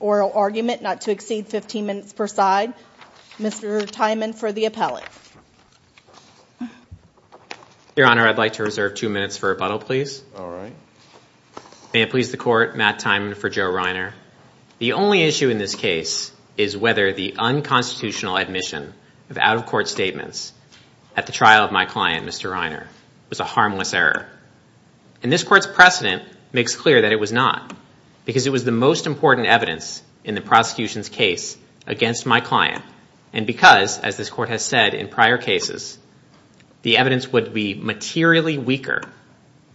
oral argument not to exceed 15 minutes per side. Mr. Tymon for the appellate. Your Honor, I'd like to reserve two minutes for rebuttal please. May it please the Court, Matt Tymon for Joe Reiner. The only issue in this case is whether the unconstitutional admission of out-of-court statements at the trial of my client, Mr. Reiner, was a harmless error. And this Court's precedent makes clear that it was not because it was the most important evidence in the prosecution's case against my client and because, as this Court has said in prior cases, the evidence would be materially weaker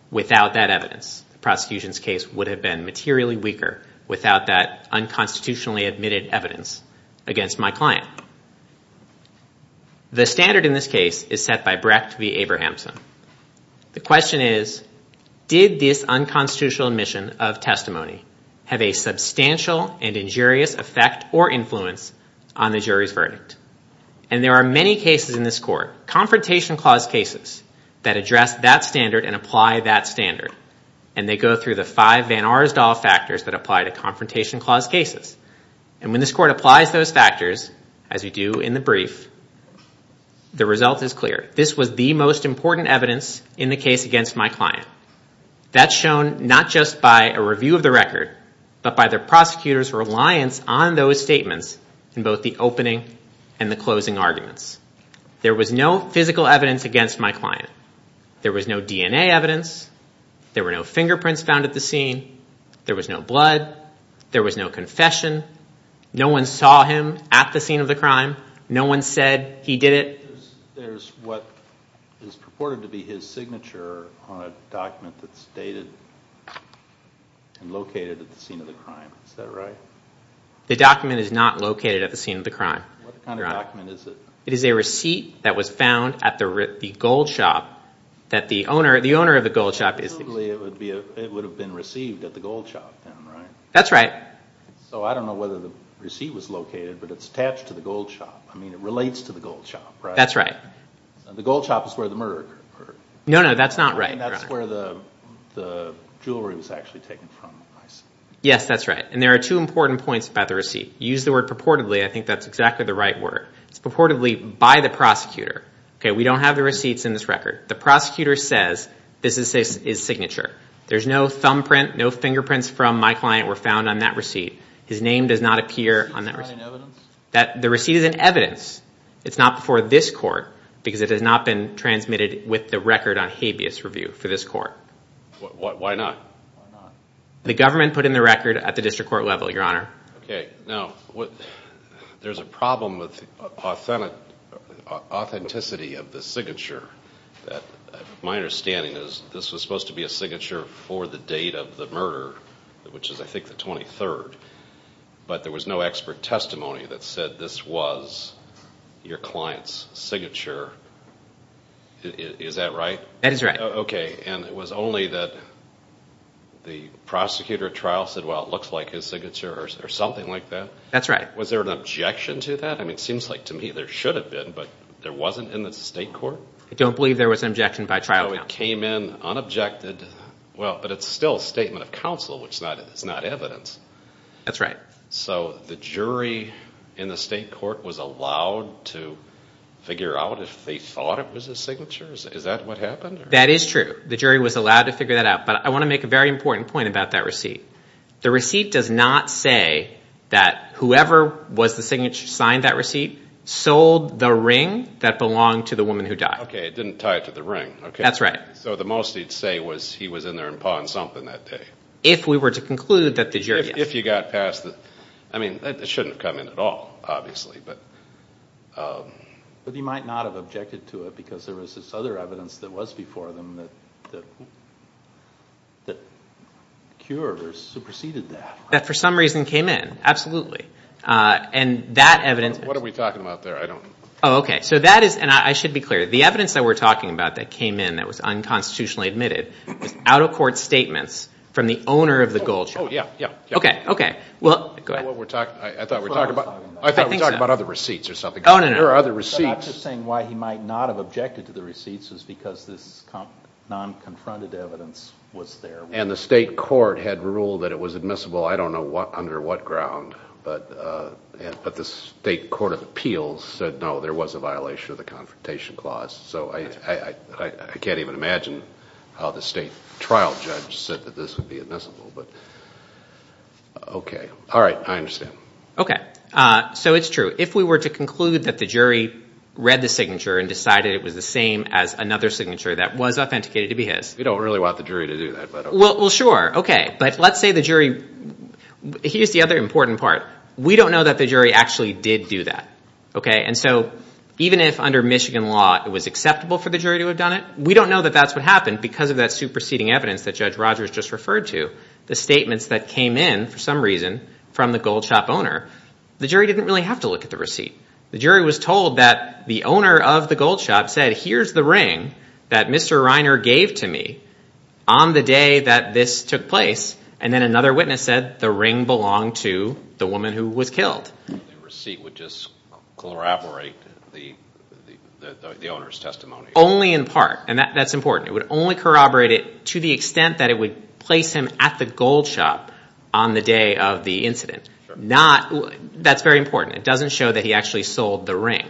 without that evidence. The prosecution's case would have been materially weaker without that unconstitutionally admitted evidence against my client. The standard in this case is set by Brecht v. Abrahamson. The question is, did this unconstitutional admission of testimony have a substantial and injurious effect or influence on the jury's verdict? And there are many cases in this Court, confrontation clause cases, that address that standard and apply that standard. And they go through the five Van Arsdale factors that apply to confrontation clause cases. And when this Court applies those factors, as we do in the brief, the result is clear. This was the most important evidence in the case against my client. That's shown not just by a review of the record, but by the prosecutor's reliance on those statements in both the opening and the closing arguments. There was no physical evidence against my client. There was no DNA evidence. There were no fingerprints found at the scene. There was no blood. There was no confession. No one saw him at the scene of the crime. No one said he did it. There's what is purported to be his signature on a document that's dated and located at the scene of the crime. Is that right? The document is not located at the scene of the crime. What kind of document is it? It is a receipt that was found at the gold shop that the owner of the gold shop is... It would have been received at the gold shop, then, right? That's right. So I don't know whether the receipt was located, but it's attached to the gold shop. I mean, it relates to the gold shop, right? That's right. The gold shop is where the murder occurred. No, no, that's not right. I mean, that's where the jewelry was actually taken from, I see. Yes, that's right. And there are two important points about the receipt. You use the word purportedly. I think that's exactly the right word. It's purportedly by the prosecutor. Okay, we don't have the receipts in this record. The prosecutor says this is his signature. There's no thumbprint, no fingerprints from my client were found on that receipt. His name does not appear on that receipt. Is this not in evidence? The receipt is in evidence. It's not before this court because it has not been transmitted with the record on habeas review for this court. Why not? The government put in the record at the district court level, Your Honor. Now, there's a problem with the authenticity of the signature. My understanding is this was supposed to be a signature for the date of the murder, which is I think the 23rd, but there was no expert testimony that said this was your client's signature. Is that right? That is right. Okay. And it was only that the prosecutor at trial said, well, it looks like his signature or something like that? That's right. Was there an objection to that? I mean, it seems like to me there should have been, but there wasn't in the state court? I don't believe there was an objection by trial. It came in unobjected, but it's still a statement of counsel, which is not evidence. That's right. So the jury in the state court was allowed to figure out if they thought it was his signature? Is that what happened? That is true. The jury was allowed to figure that out, but I want to make a very important point about that receipt. The receipt does not say that whoever was the signature signed that receipt sold the ring that belonged to the woman who died. Okay. It didn't tie it to the ring. Okay. That's right. So the most he'd say was he was in there and pawing something that day. If we were to conclude that the jury... If you got past the... I mean, that shouldn't have come in at all, obviously, but... But he might not have objected to it because there was this other evidence that was before them that cured or superseded that. That, for some reason, came in. Absolutely. And that evidence... What are we talking about there? I don't... Oh, okay. So that is... And I should be clear. The evidence that we're talking about that came in that was unconstitutionally admitted was out-of-court statements from the owner of the gold shop. Oh, yeah. Yeah. Okay. Okay. Well, go ahead. What we're talking... I thought we were talking about... I thought we were talking about other receipts or something. Oh, no, no, no. There are other receipts. I'm just saying why he might not have objected to the receipts is because this non-confronted evidence was there. And the state court had ruled that it was admissible. I don't know under what ground, but the state court of appeals said, no, there was a violation of the Confrontation Clause. So I can't even imagine how the state trial judge said that this would be admissible, but... Okay. All right. I understand. Okay. So it's true. If we were to conclude that the jury read the signature and decided it was the same as another signature that was authenticated to be his... We don't really want the jury to do that, but... Well, sure. Okay. But let's say the jury... Here's the other important part. We don't know that the jury actually did do that. Okay. And so even if under Michigan law, it was acceptable for the jury to have done it, we don't know that that's what happened because of that superseding evidence that Judge Rogers just referred to. The statements that came in for some reason from the gold shop owner, the jury didn't really have to look at the receipt. The jury was told that the owner of the gold shop said, here's the ring that Mr. Reiner gave to me on the day that this took place. And then another witness said the ring belonged to the woman who was killed. The receipt would just corroborate the owner's testimony. Only in part. And that's important. It would only corroborate it to the extent that it would place him at the gold shop on the day of the incident. Not... That's very important. It doesn't show that he actually sold the ring.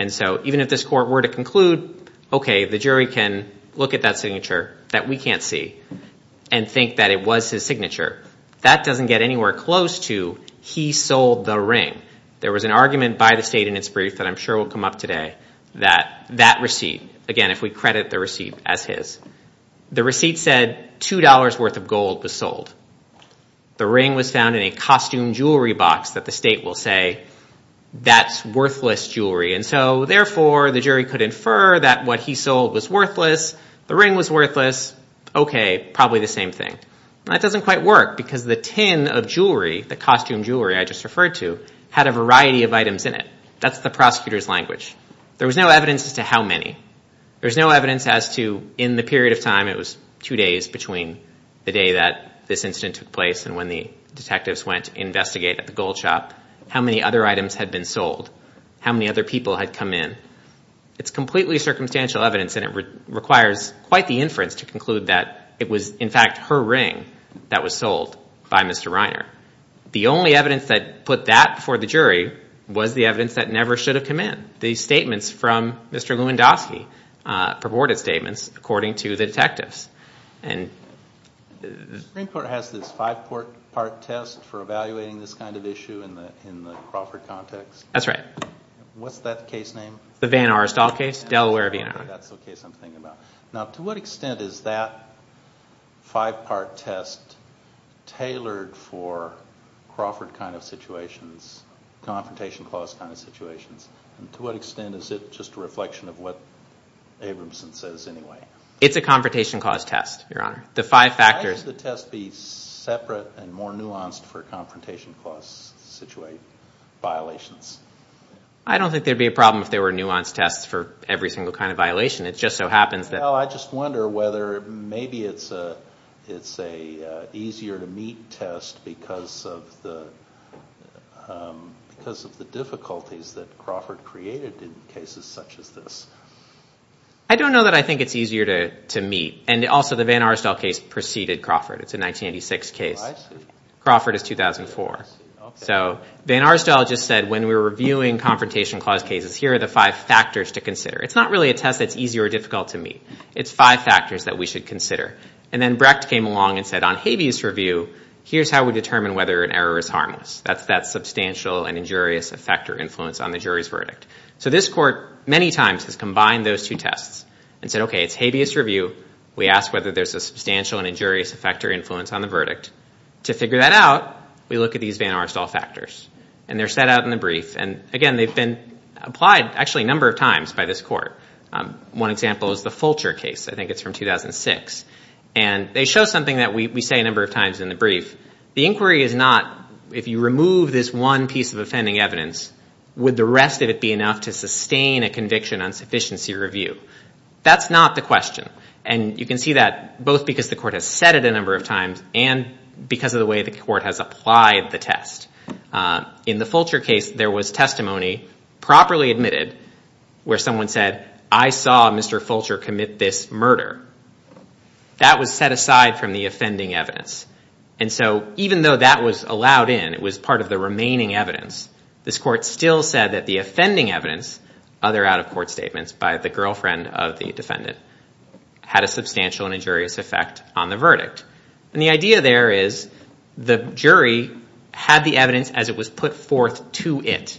And so even if this court were to conclude, okay, the jury can look at that signature that we can't see and think that it was his signature, that doesn't get anywhere close to he sold the ring. There was an argument by the state in its brief that I'm sure will come up today that that receipt, again, if we credit the receipt as his, the receipt said $2 worth of gold was sold. The ring was found in a costume jewelry box that the state will say, that's worthless jewelry. And so therefore, the jury could infer that what he sold was worthless. The ring was worthless. Okay, probably the same thing. And that doesn't quite work because the tin of jewelry, the costume jewelry I just referred to, had a variety of items in it. That's the prosecutor's language. There was no evidence as to how many. There was no evidence as to in the period of time, it was two days between the day that this incident took place and when the detectives went to investigate at the gold shop, how many other items had been sold, how many other people had come in. It's completely circumstantial evidence and it requires quite the inference to conclude that it was, in fact, her ring that was sold by Mr. Reiner. The only evidence that put that before the jury was the evidence that never should have come in. These statements from Mr. Lewandowski, purported statements according to the detectives. The Supreme Court has this five-part test for evaluating this kind of issue in the Crawford context? That's right. What's that case name? The Van Arsdall case, Delaware, Vietnam. That's the case I'm thinking about. Now, to what extent is that five-part test tailored for Crawford kind of situations, confrontation clause kind of situations? And to what extent is it just a reflection of what Abramson says anyway? It's a confrontation clause test, Your Honor. The five factors... Why should the test be separate and more nuanced for confrontation clause situate violations? I don't think there'd be a problem if there were nuanced tests for every single kind of violation. It just so happens that... Well, I just wonder whether maybe it's a easier to meet test because of the difficulties that Crawford created in cases such as this. I don't know that I think it's easier to meet. And also, the Van Arsdall case preceded Crawford. It's a 1986 case. Crawford is 2004. So Van Arsdall just said, when we were reviewing confrontation clause cases, here are the five factors to consider. It's not really a test that's easy or difficult to meet. It's five factors that we should consider. And then Brecht came along and said, on habeas review, here's how we determine whether an error is harmless. That's that substantial and injurious effect or influence on the jury's verdict. So this court, many times, has combined those two tests and said, OK, it's habeas review. We ask whether there's a substantial and injurious effect or influence on the verdict. To figure that out, we look at these Van Arsdall factors. And they're set out in the brief. And again, they've been applied, actually, a number of times by this court. One example is the Fulcher case. I think it's from 2006. And they show something that we say a number of times in the brief. The inquiry is not, if you remove this one piece of offending evidence, would the rest of it be enough to sustain a conviction on sufficiency review? That's not the question. And you can see that both because the court has said it a number of times and because of the way the court has applied the test. In the Fulcher case, there was testimony properly admitted where someone said, I saw Mr. Fulcher commit this murder. That was set aside from the offending evidence. And so even though that was allowed in, it was part of the remaining evidence, this court still said that the offending evidence, other out-of-court statements by the girlfriend of the defendant, had a substantial and injurious effect on the verdict. And the idea there is the jury had the evidence as it was put forth to it.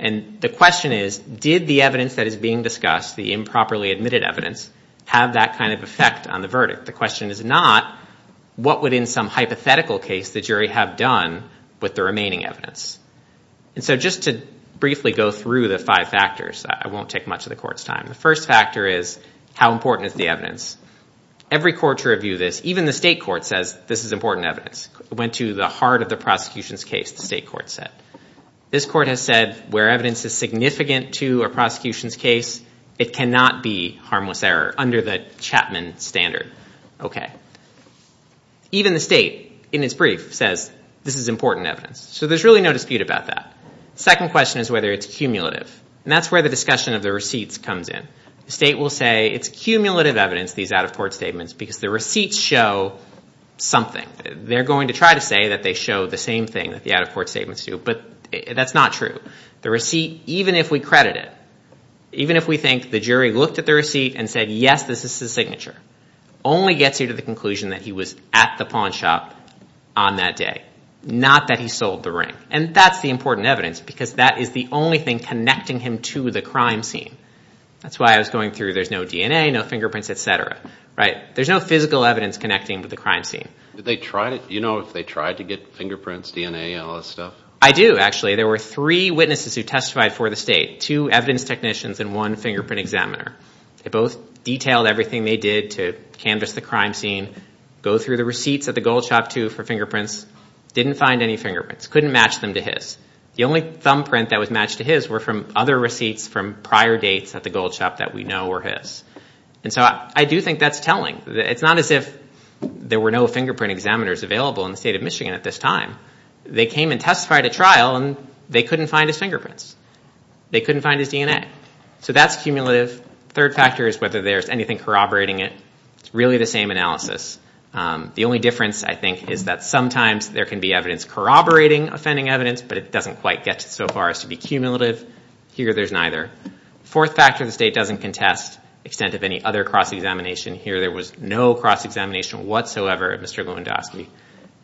And the question is, did the evidence that is being discussed, the improperly admitted evidence, have that kind of effect on the verdict? The question is not, what would, in some hypothetical case, the jury have done with the remaining evidence? And so just to briefly go through the five factors, I won't take much of the court's time. The first factor is, how important is the evidence? Every court should review this. Even the state court says, this is important evidence. It went to the heart of the prosecution's case, the state court said. This court has said, where evidence is significant to a prosecution's case, it cannot be harmless error under the Chapman standard. Even the state, in its brief, says, this is important evidence. So there's really no dispute about that. Second question is whether it's cumulative. And that's where the discussion of the receipts comes in. The state will say, it's cumulative evidence, these out-of-court statements, because the receipts show something. They're going to try to say that they show the same thing that the out-of-court statements do. But that's not true. The receipt, even if we credit it, even if we think the jury looked at the receipt and said, yes, this is his signature, only gets you to the conclusion that he was at the pawn shop on that day, not that he sold the ring. And that's the important evidence, because that is the only thing connecting him to the crime scene. That's why I was going through, there's no DNA, no fingerprints, et cetera, right? There's no physical evidence connecting with the crime scene. Did they try to, you know, if they tried to get fingerprints, DNA, all that stuff? I do, actually. There were three witnesses who testified for the state, two evidence technicians and one fingerprint examiner. They both detailed everything they did to canvas the crime scene, go through the receipts at the gold shop, too, for fingerprints. Didn't find any fingerprints. Couldn't match them to his. The only thumbprint that was matched to his were from other receipts from prior dates at the gold shop that we know were his. And so I do think that's telling. It's not as if there were no fingerprint examiners available in the state of Michigan at this time. They came and testified at trial, and they couldn't find his fingerprints. They couldn't find his DNA. So that's cumulative. Third factor is whether there's anything corroborating it. It's really the same analysis. The only difference, I think, is that sometimes there can be evidence corroborating offending evidence, but it doesn't quite get so far as to be cumulative. Here, there's neither. Fourth factor, the state doesn't contest the extent of any other cross-examination. Here, there was no cross-examination whatsoever at Mr. Lewandowski.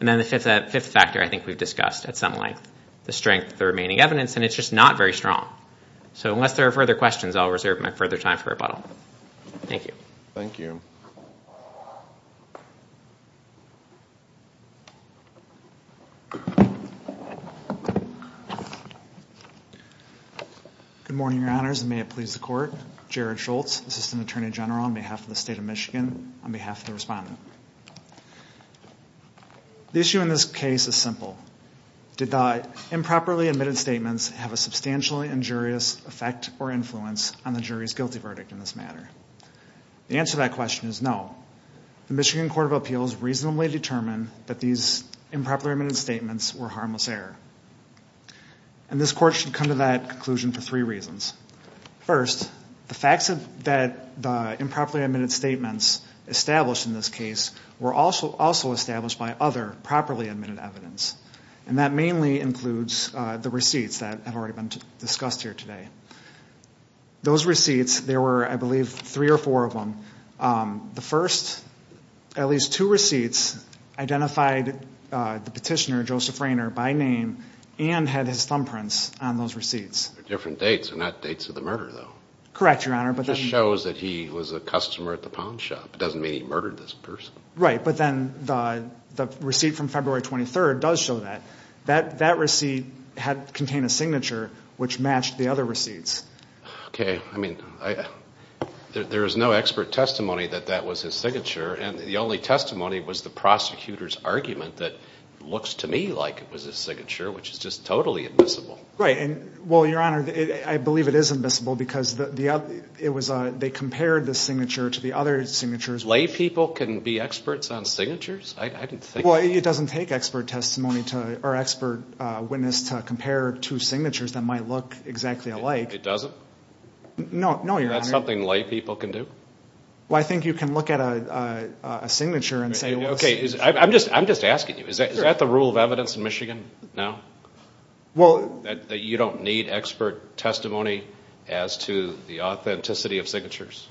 And then the fifth factor, I think we've discussed at some length, the strength of the remaining evidence. And it's just not very strong. So unless there are further questions, I'll reserve my further time for rebuttal. Thank you. Thank you. Good morning, your honors, and may it please the court. Jared Schultz, assistant attorney general on behalf of the state of Michigan, on behalf of the respondent. The issue in this case is simple. Did the improperly admitted statements have a substantially injurious effect or influence on the jury's guilty verdict in this matter? The answer to that question is no. The Michigan Court of Appeals reasonably determined that these improperly admitted statements were harmless error. And this court should come to that conclusion for three reasons. First, the facts that the improperly admitted statements established in this case were also established by other properly admitted evidence. And that mainly includes the receipts that have already been discussed here today. Those receipts, there were, I believe, three or four of them. The first, at least two receipts identified the petitioner, Joseph Rainer, by name and had his thumbprints on those receipts. They're different dates. They're not dates of the murder, though. Correct, your honor. But that shows that he was a customer at the pawn shop. Doesn't mean he murdered this person. Right. But then the receipt from February 23rd does show that. That receipt contained a signature which matched the other receipts. Okay. I mean, there is no expert testimony that that was his signature. And the only testimony was the prosecutor's argument that looks to me like it was his signature, which is just totally admissible. Right. And well, your honor, I believe it is admissible because they compared the signature to the other signatures. Lay people can be experts on signatures? I didn't think that. Well, it doesn't take expert testimony to, or expert witness to compare two signatures that might look exactly alike. It doesn't? No, no, your honor. That's something lay people can do? Well, I think you can look at a signature and say, well... Okay, I'm just asking you, is that the rule of evidence in Michigan now? Well... That you don't need expert testimony as to the authenticity of signatures?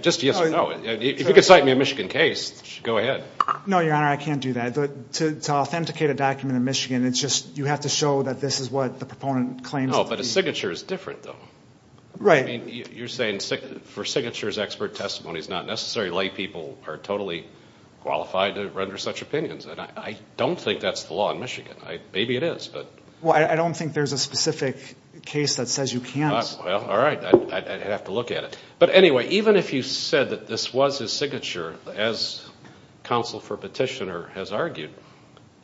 Just yes or no. If you could cite me a Michigan case, go ahead. No, your honor, I can't do that. But to authenticate a document in Michigan, it's just you have to show that this is what the proponent claims. No, but a signature is different though. Right. I mean, you're saying for signatures, expert testimony is not necessary. Lay people are totally qualified to render such opinions. And I don't think that's the law in Michigan. Maybe it is, but... Well, I don't think there's a specific case that says you can't. Well, all right. I'd have to look at it. But anyway, even if you said that this was his signature, as counsel for petitioner has argued,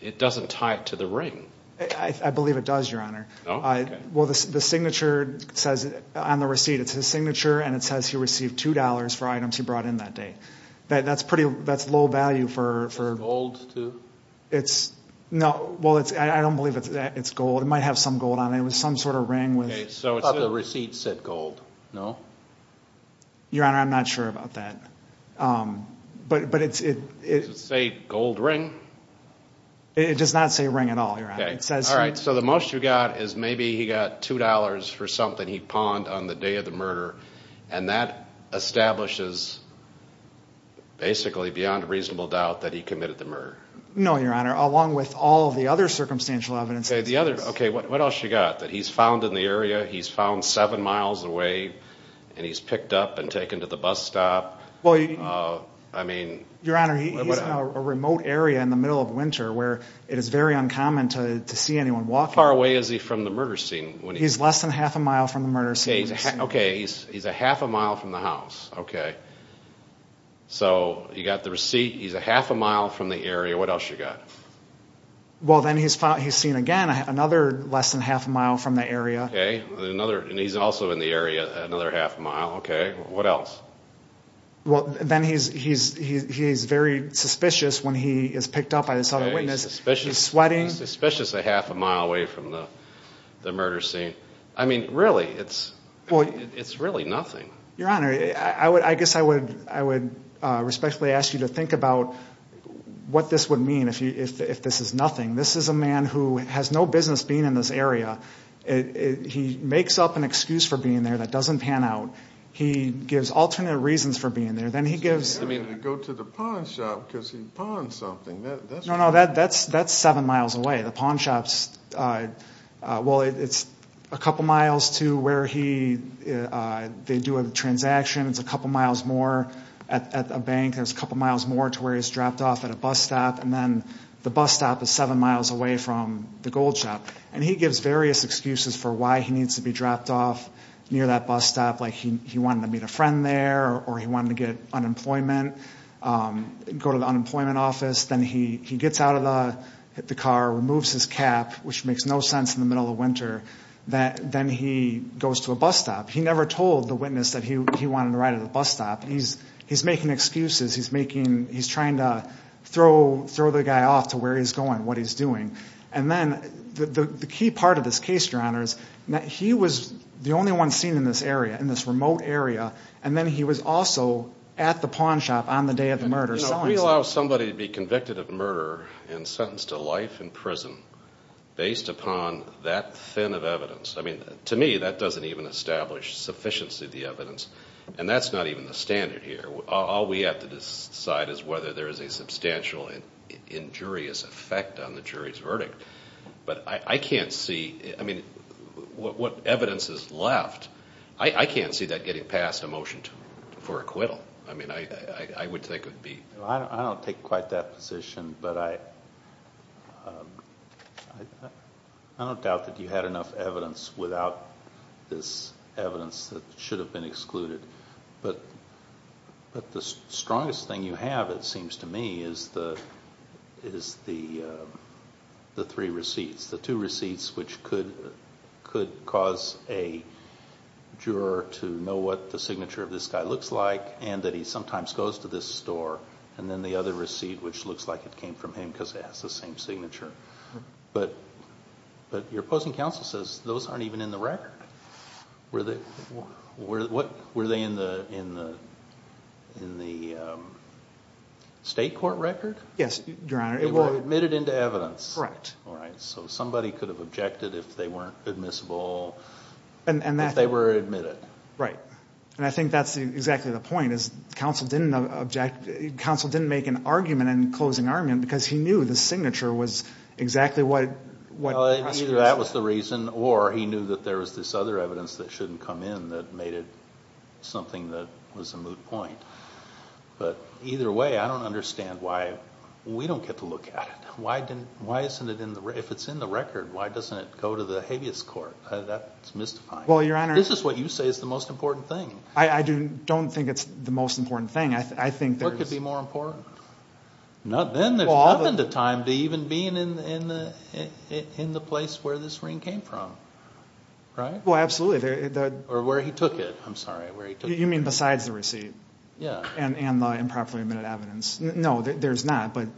it doesn't tie it to the ring. I believe it does, your honor. Oh, okay. Well, the signature says on the receipt, it's his signature, and it says he received $2 for items he brought in that day. That's pretty... That's low value for... Gold too? It's... No, well, I don't believe it's gold. It might have some gold on it. It was some sort of ring with... Okay, so the receipt said gold, no? Your honor, I'm not sure about that. But it's... Does it say gold ring? It does not say ring at all, your honor. Okay, all right. So the most you got is maybe he got $2 for something he pawned on the day of the murder, and that establishes basically beyond reasonable doubt that he committed the murder. No, your honor. Along with all of the other circumstantial evidence... Okay, the other... Okay, what else you got? That he's found in the area, he's found seven miles away, and he's picked up and taken to the bus stop. I mean... Your honor, he's in a remote area in the middle of winter, where it is very uncommon to see anyone walking. How far away is he from the murder scene when he... He's less than half a mile from the murder scene. Okay, he's a half a mile from the house. Okay, so you got the receipt, he's a half a mile from the area. What else you got? Well, then he's seen again another less than half a mile from the area. And he's also in the area another half a mile. Okay, what else? Well, then he's very suspicious when he is picked up by this other witness. He's suspicious. He's sweating. He's suspicious a half a mile away from the murder scene. I mean, really, it's really nothing. Your honor, I guess I would respectfully ask you to think about what this would mean if this is nothing. This is a man who has no business being in this area. He makes up an excuse for being there that doesn't pan out. He gives alternate reasons for being there. Then he gives... I mean, to go to the pawn shop because he pawned something. No, no, that's seven miles away. The pawn shop's... Well, it's a couple miles to where they do a transaction. It's a couple miles more at a bank. There's a couple miles more to where he's dropped off at a bus stop. And then the bus stop is seven miles away from the gold shop. And he gives various excuses for why he needs to be dropped off near that bus stop. Like he wanted to meet a friend there or he wanted to get unemployment, go to the unemployment office. Then he gets out of the car, removes his cap, which makes no sense in the middle of winter. Then he goes to a bus stop. He never told the witness that he wanted to ride at a bus stop. He's making excuses. He's making... He's trying to throw the guy off to where he's going, what he's doing. And then the key part of this case, Your Honor, is that he was the only one seen in this area, in this remote area. And then he was also at the pawn shop on the day of the murder. You know, we allow somebody to be convicted of murder and sentenced to life in prison based upon that thin of evidence. I mean, to me, that doesn't even establish sufficiency of the evidence. And that's not even the standard here. All we have to decide is whether there is a substantial injurious effect on the jury's verdict. But I can't see... I mean, what evidence is left... I can't see that getting past a motion for acquittal. I mean, I would think it would be... Well, I don't take quite that position. But I don't doubt that you had enough evidence without this evidence that should have been excluded. But the strongest thing you have, it seems to me, is the three receipts. The two receipts which could cause a juror to know what the signature of this guy looks like and that he sometimes goes to this store. And then the other receipt which looks like it came from him because it has the same signature. But your opposing counsel says those aren't even in the record. Were they in the state court record? Yes, Your Honor. They were admitted into evidence. Correct. All right. So somebody could have objected if they weren't admissible, if they were admitted. Right. And I think that's exactly the point. Counsel didn't make an argument in closing argument because he knew the signature was exactly what... Either that was the reason or he knew that there was this other evidence that shouldn't come in that made it something that was a moot point. But either way, I don't understand why we don't get to look at it. Why isn't it in the... If it's in the record, why doesn't it go to the habeas court? That's mystifying. Well, Your Honor... This is what you say is the most important thing. I don't think it's the most important thing. I think there's... What could be more important? Not then. There's not been the time to even being in the place where this ring came from. Right? Well, absolutely. Or where he took it. I'm sorry, where he took it. You mean besides the receipt? Yeah. And the improperly admitted evidence. No, there's not. But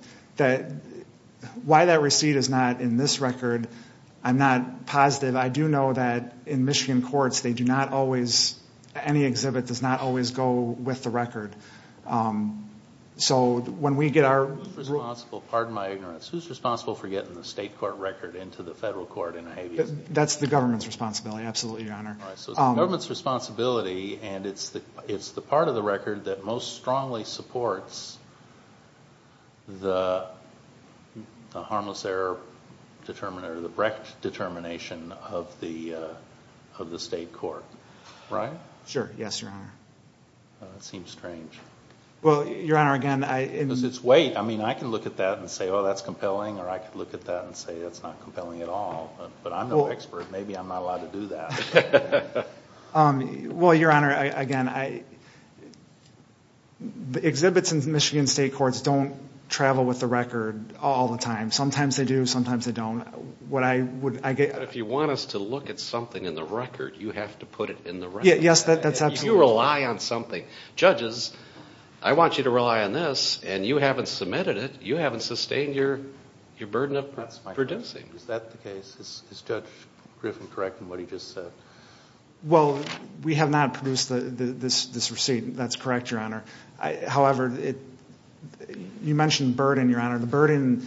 why that receipt is not in this record, I'm not positive. I do know that in Michigan courts, they do not always... Any exhibit does not always go with the record. So when we get our... Who's responsible? Pardon my ignorance. Who's responsible for getting the state court record into the federal court in a habeas case? That's the government's responsibility. Absolutely, Your Honor. All right. So it's the government's responsibility and it's the part of the record that most strongly supports the harmless error determiner, the Brecht determination of the state court, right? Sure. Yes, Your Honor. Well, that seems strange. Well, Your Honor, again, I... Because it's weight. I mean, I can look at that and say, oh, that's compelling. Or I could look at that and say, it's not compelling at all. But I'm no expert. Maybe I'm not allowed to do that. Well, Your Honor, again, exhibits in Michigan state courts don't travel with the record all the time. Sometimes they do, sometimes they don't. If you want us to look at something in the record, you have to put it in the record. Yes, that's absolutely... You rely on something. Judges, I want you to rely on this and you haven't submitted it. You haven't sustained your burden of producing. Is that the case? Is Judge Griffin correct in what he just said? Well, we have not produced this receipt. That's correct, Your Honor. However, you mentioned burden, Your Honor. The burden,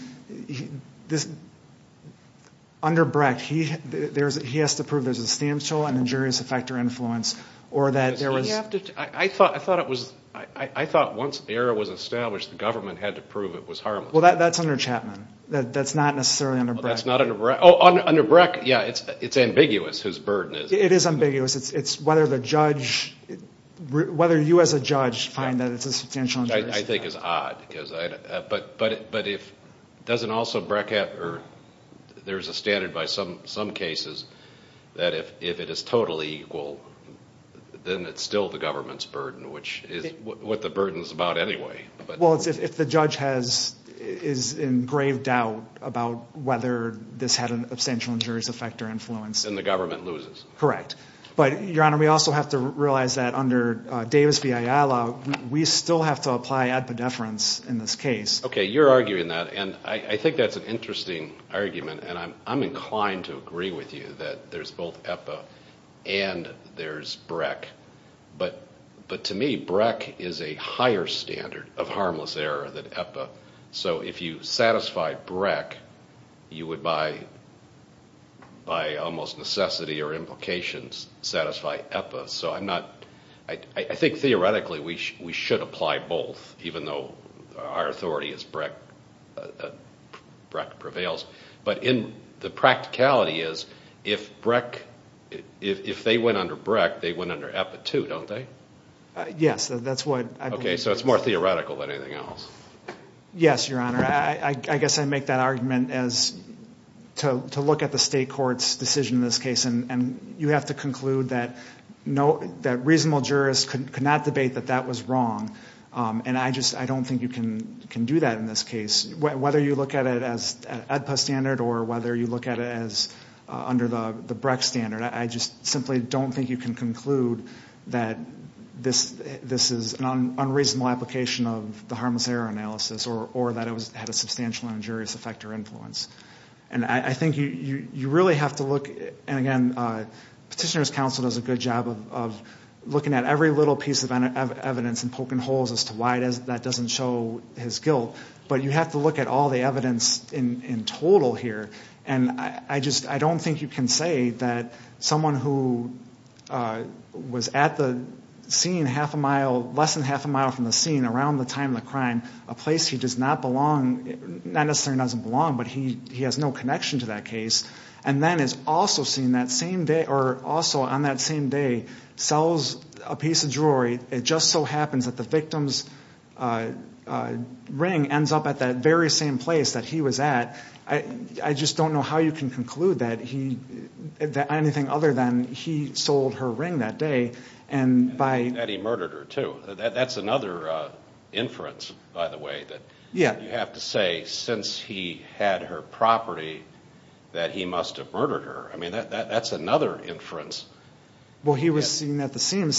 under Brecht, he has to prove there's a substantial and injurious effect or influence or that there was... I thought once the error was established, the government had to prove it was harmless. Well, that's under Chapman. That's not necessarily under Brecht. That's not under Brecht. Oh, under Brecht, yeah, it's ambiguous, his burden is. It is ambiguous. Whether you as a judge find that it's a substantial injurious effect. I think it's odd. But if it doesn't also Brecht or there's a standard by some cases that if it is totally equal, then it's still the government's burden, which is what the burden is about anyway. Well, if the judge is in grave doubt about whether this had an substantial injurious effect or influence... Then the government loses. Correct. But, Your Honor, we also have to realize that under Davis v. Ayala, we still have to apply epidefference in this case. Okay, you're arguing that and I think that's an interesting argument and I'm inclined to there's Brecht, but to me Brecht is a higher standard of harmless error than EPA. So if you satisfy Brecht, you would by almost necessity or implications satisfy EPA. So I think theoretically we should apply both, even though our authority is Brecht prevails. But the practicality is if they went under Brecht, they went under EPA too, don't they? Yes, that's what... Okay, so it's more theoretical than anything else. Yes, Your Honor. I guess I make that argument as to look at the state court's decision in this case and you have to conclude that reasonable jurists could not debate that that was wrong. And I don't think you can do that in this case. Whether you look at it as EPA standard or whether you look at it as under the Brecht standard, I just simply don't think you can conclude that this is an unreasonable application of the harmless error analysis or that it had a substantial injurious effect or influence. And I think you really have to look, and again, Petitioner's counsel does a good job of looking at every little piece of evidence and poking holes as to why that doesn't show his guilt. But you have to look at all the evidence in total here. And I just, I don't think you can say that someone who was at the scene half a mile, less than half a mile from the scene around the time of the crime, a place he does not belong, not necessarily doesn't belong, but he has no connection to that case and then is also seen that same day or also on that same day, sells a piece of jewelry. It just so happens that the victim's ring ends up at that very same place that he was at. I just don't know how you can conclude that anything other than he sold her ring that day and by... And that he murdered her too. That's another inference, by the way, that you have to say since he had her property that he must have murdered her. I mean, that's another inference. Well, he was seen at the scene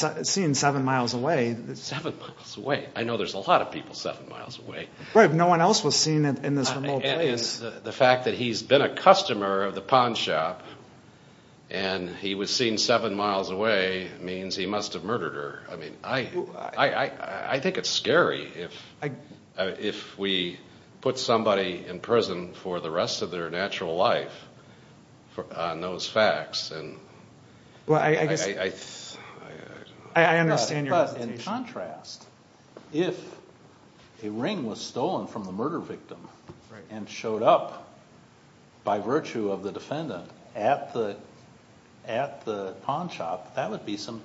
seven miles away. Seven miles away. I know there's a lot of people seven miles away. Right. No one else was seen in this remote place. The fact that he's been a customer of the pawn shop and he was seen seven miles away means he must have murdered her. I mean, I think it's scary if we put somebody in prison for the rest of their natural life on those facts. I understand your hesitation. But in contrast, if a ring was stolen from the murder victim and showed up by virtue of the defendant at the pawn shop, that would be some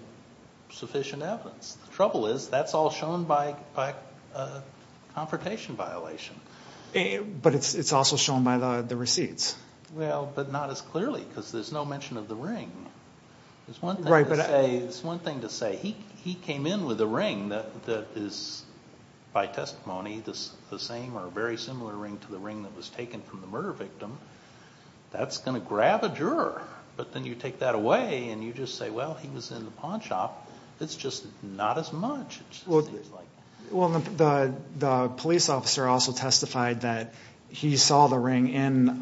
sufficient evidence. The trouble is that's all shown by a confrontation violation. But it's also shown by the receipts. Well, but not as clearly because there's no mention of the ring. It's one thing to say he came in with a ring that is by testimony the same or very similar ring to the ring that was taken from the murder victim. That's going to grab a juror. But then you take that away and you just say, well, he was in the pawn shop. It's just not as much. Well, the police officer also testified that he saw the ring in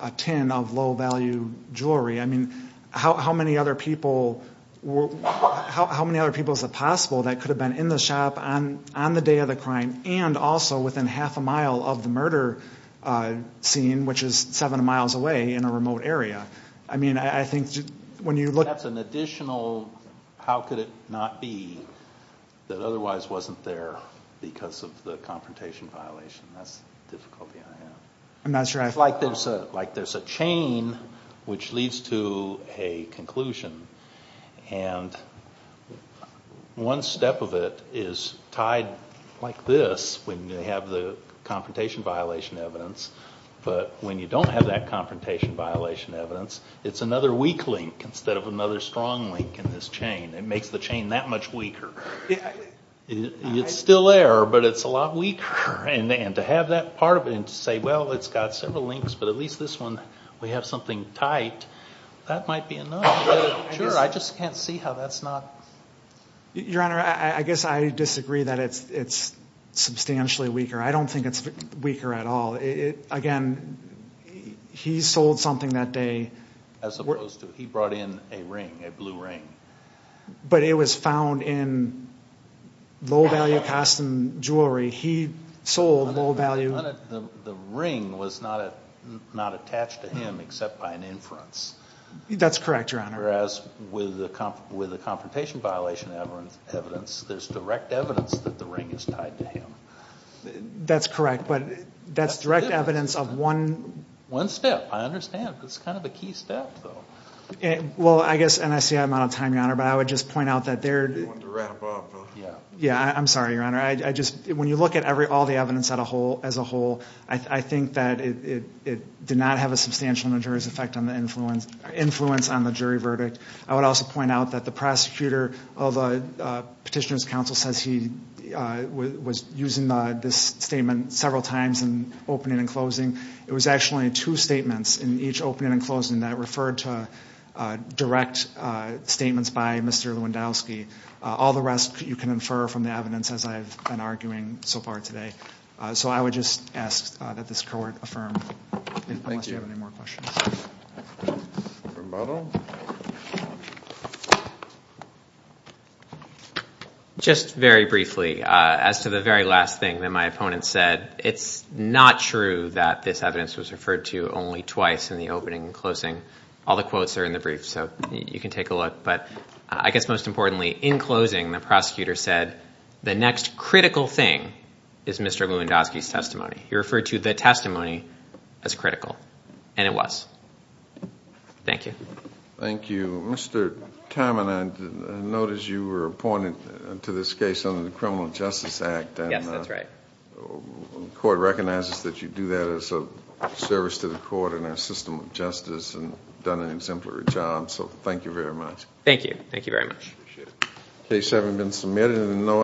a tin of low value jewelry. I mean, how many other people is it possible that could have been in the shop on the day of the crime and also within half a mile of the murder scene, which is seven miles away in a remote area? I mean, I think when you look at an additional, how could it not be that otherwise wasn't there because of the confrontation violation? That's the difficulty I have. I'm not sure. It's like there's a chain which leads to a conclusion. And one step of it is tied like this when you have the confrontation violation evidence. But when you don't have that confrontation violation evidence, it's another weak link instead of another strong link in this chain. It makes the chain that much weaker. It's still there, but it's a lot weaker. And to have that part of it and to say, well, it's got several links, but at least this one, we have something tight, that might be enough. Sure, I just can't see how that's not. Your Honor, I guess I disagree that it's substantially weaker. I don't think it's weaker at all. Again, he sold something that day. As opposed to, he brought in a ring, a blue ring. But it was found in low value custom jewelry. He sold low value. The ring was not attached to him except by an inference. That's correct, Your Honor. Whereas with the confrontation violation evidence, there's direct evidence that the ring is tied to him. That's correct. That's direct evidence of one. One step. I understand. It's kind of a key step, though. Well, I guess, and I see I'm out of time, Your Honor, but I would just point out that there. Yeah, I'm sorry, Your Honor. When you look at all the evidence as a whole, I think that it did not have a substantial majority's effect on the influence on the jury verdict. I would also point out that the prosecutor of Petitioner's Counsel says he was using this statement several times in opening and closing. It was actually two statements in each opening and closing that referred to direct statements by Mr. Lewandowski. All the rest you can infer from the evidence as I've been arguing so far today. So I would just ask that this court affirm. Thank you. Any more questions? Just very briefly, as to the very last thing that my opponent said, it's not true that this evidence was referred to only twice in the opening and closing. All the quotes are in the brief, so you can take a look. But I guess most importantly, in closing, the prosecutor said the next critical thing is Mr. Lewandowski's testimony. He referred to the testimony as critical. And it was. Thank you. Thank you. Mr. Timon, I noticed you were appointed to this case under the Criminal Justice Act. Yes, that's right. Court recognizes that you do that as a service to the court and our system of justice and done an exemplary job. So thank you very much. Thank you. Thank you very much. Appreciate it. Case having been submitted in the know.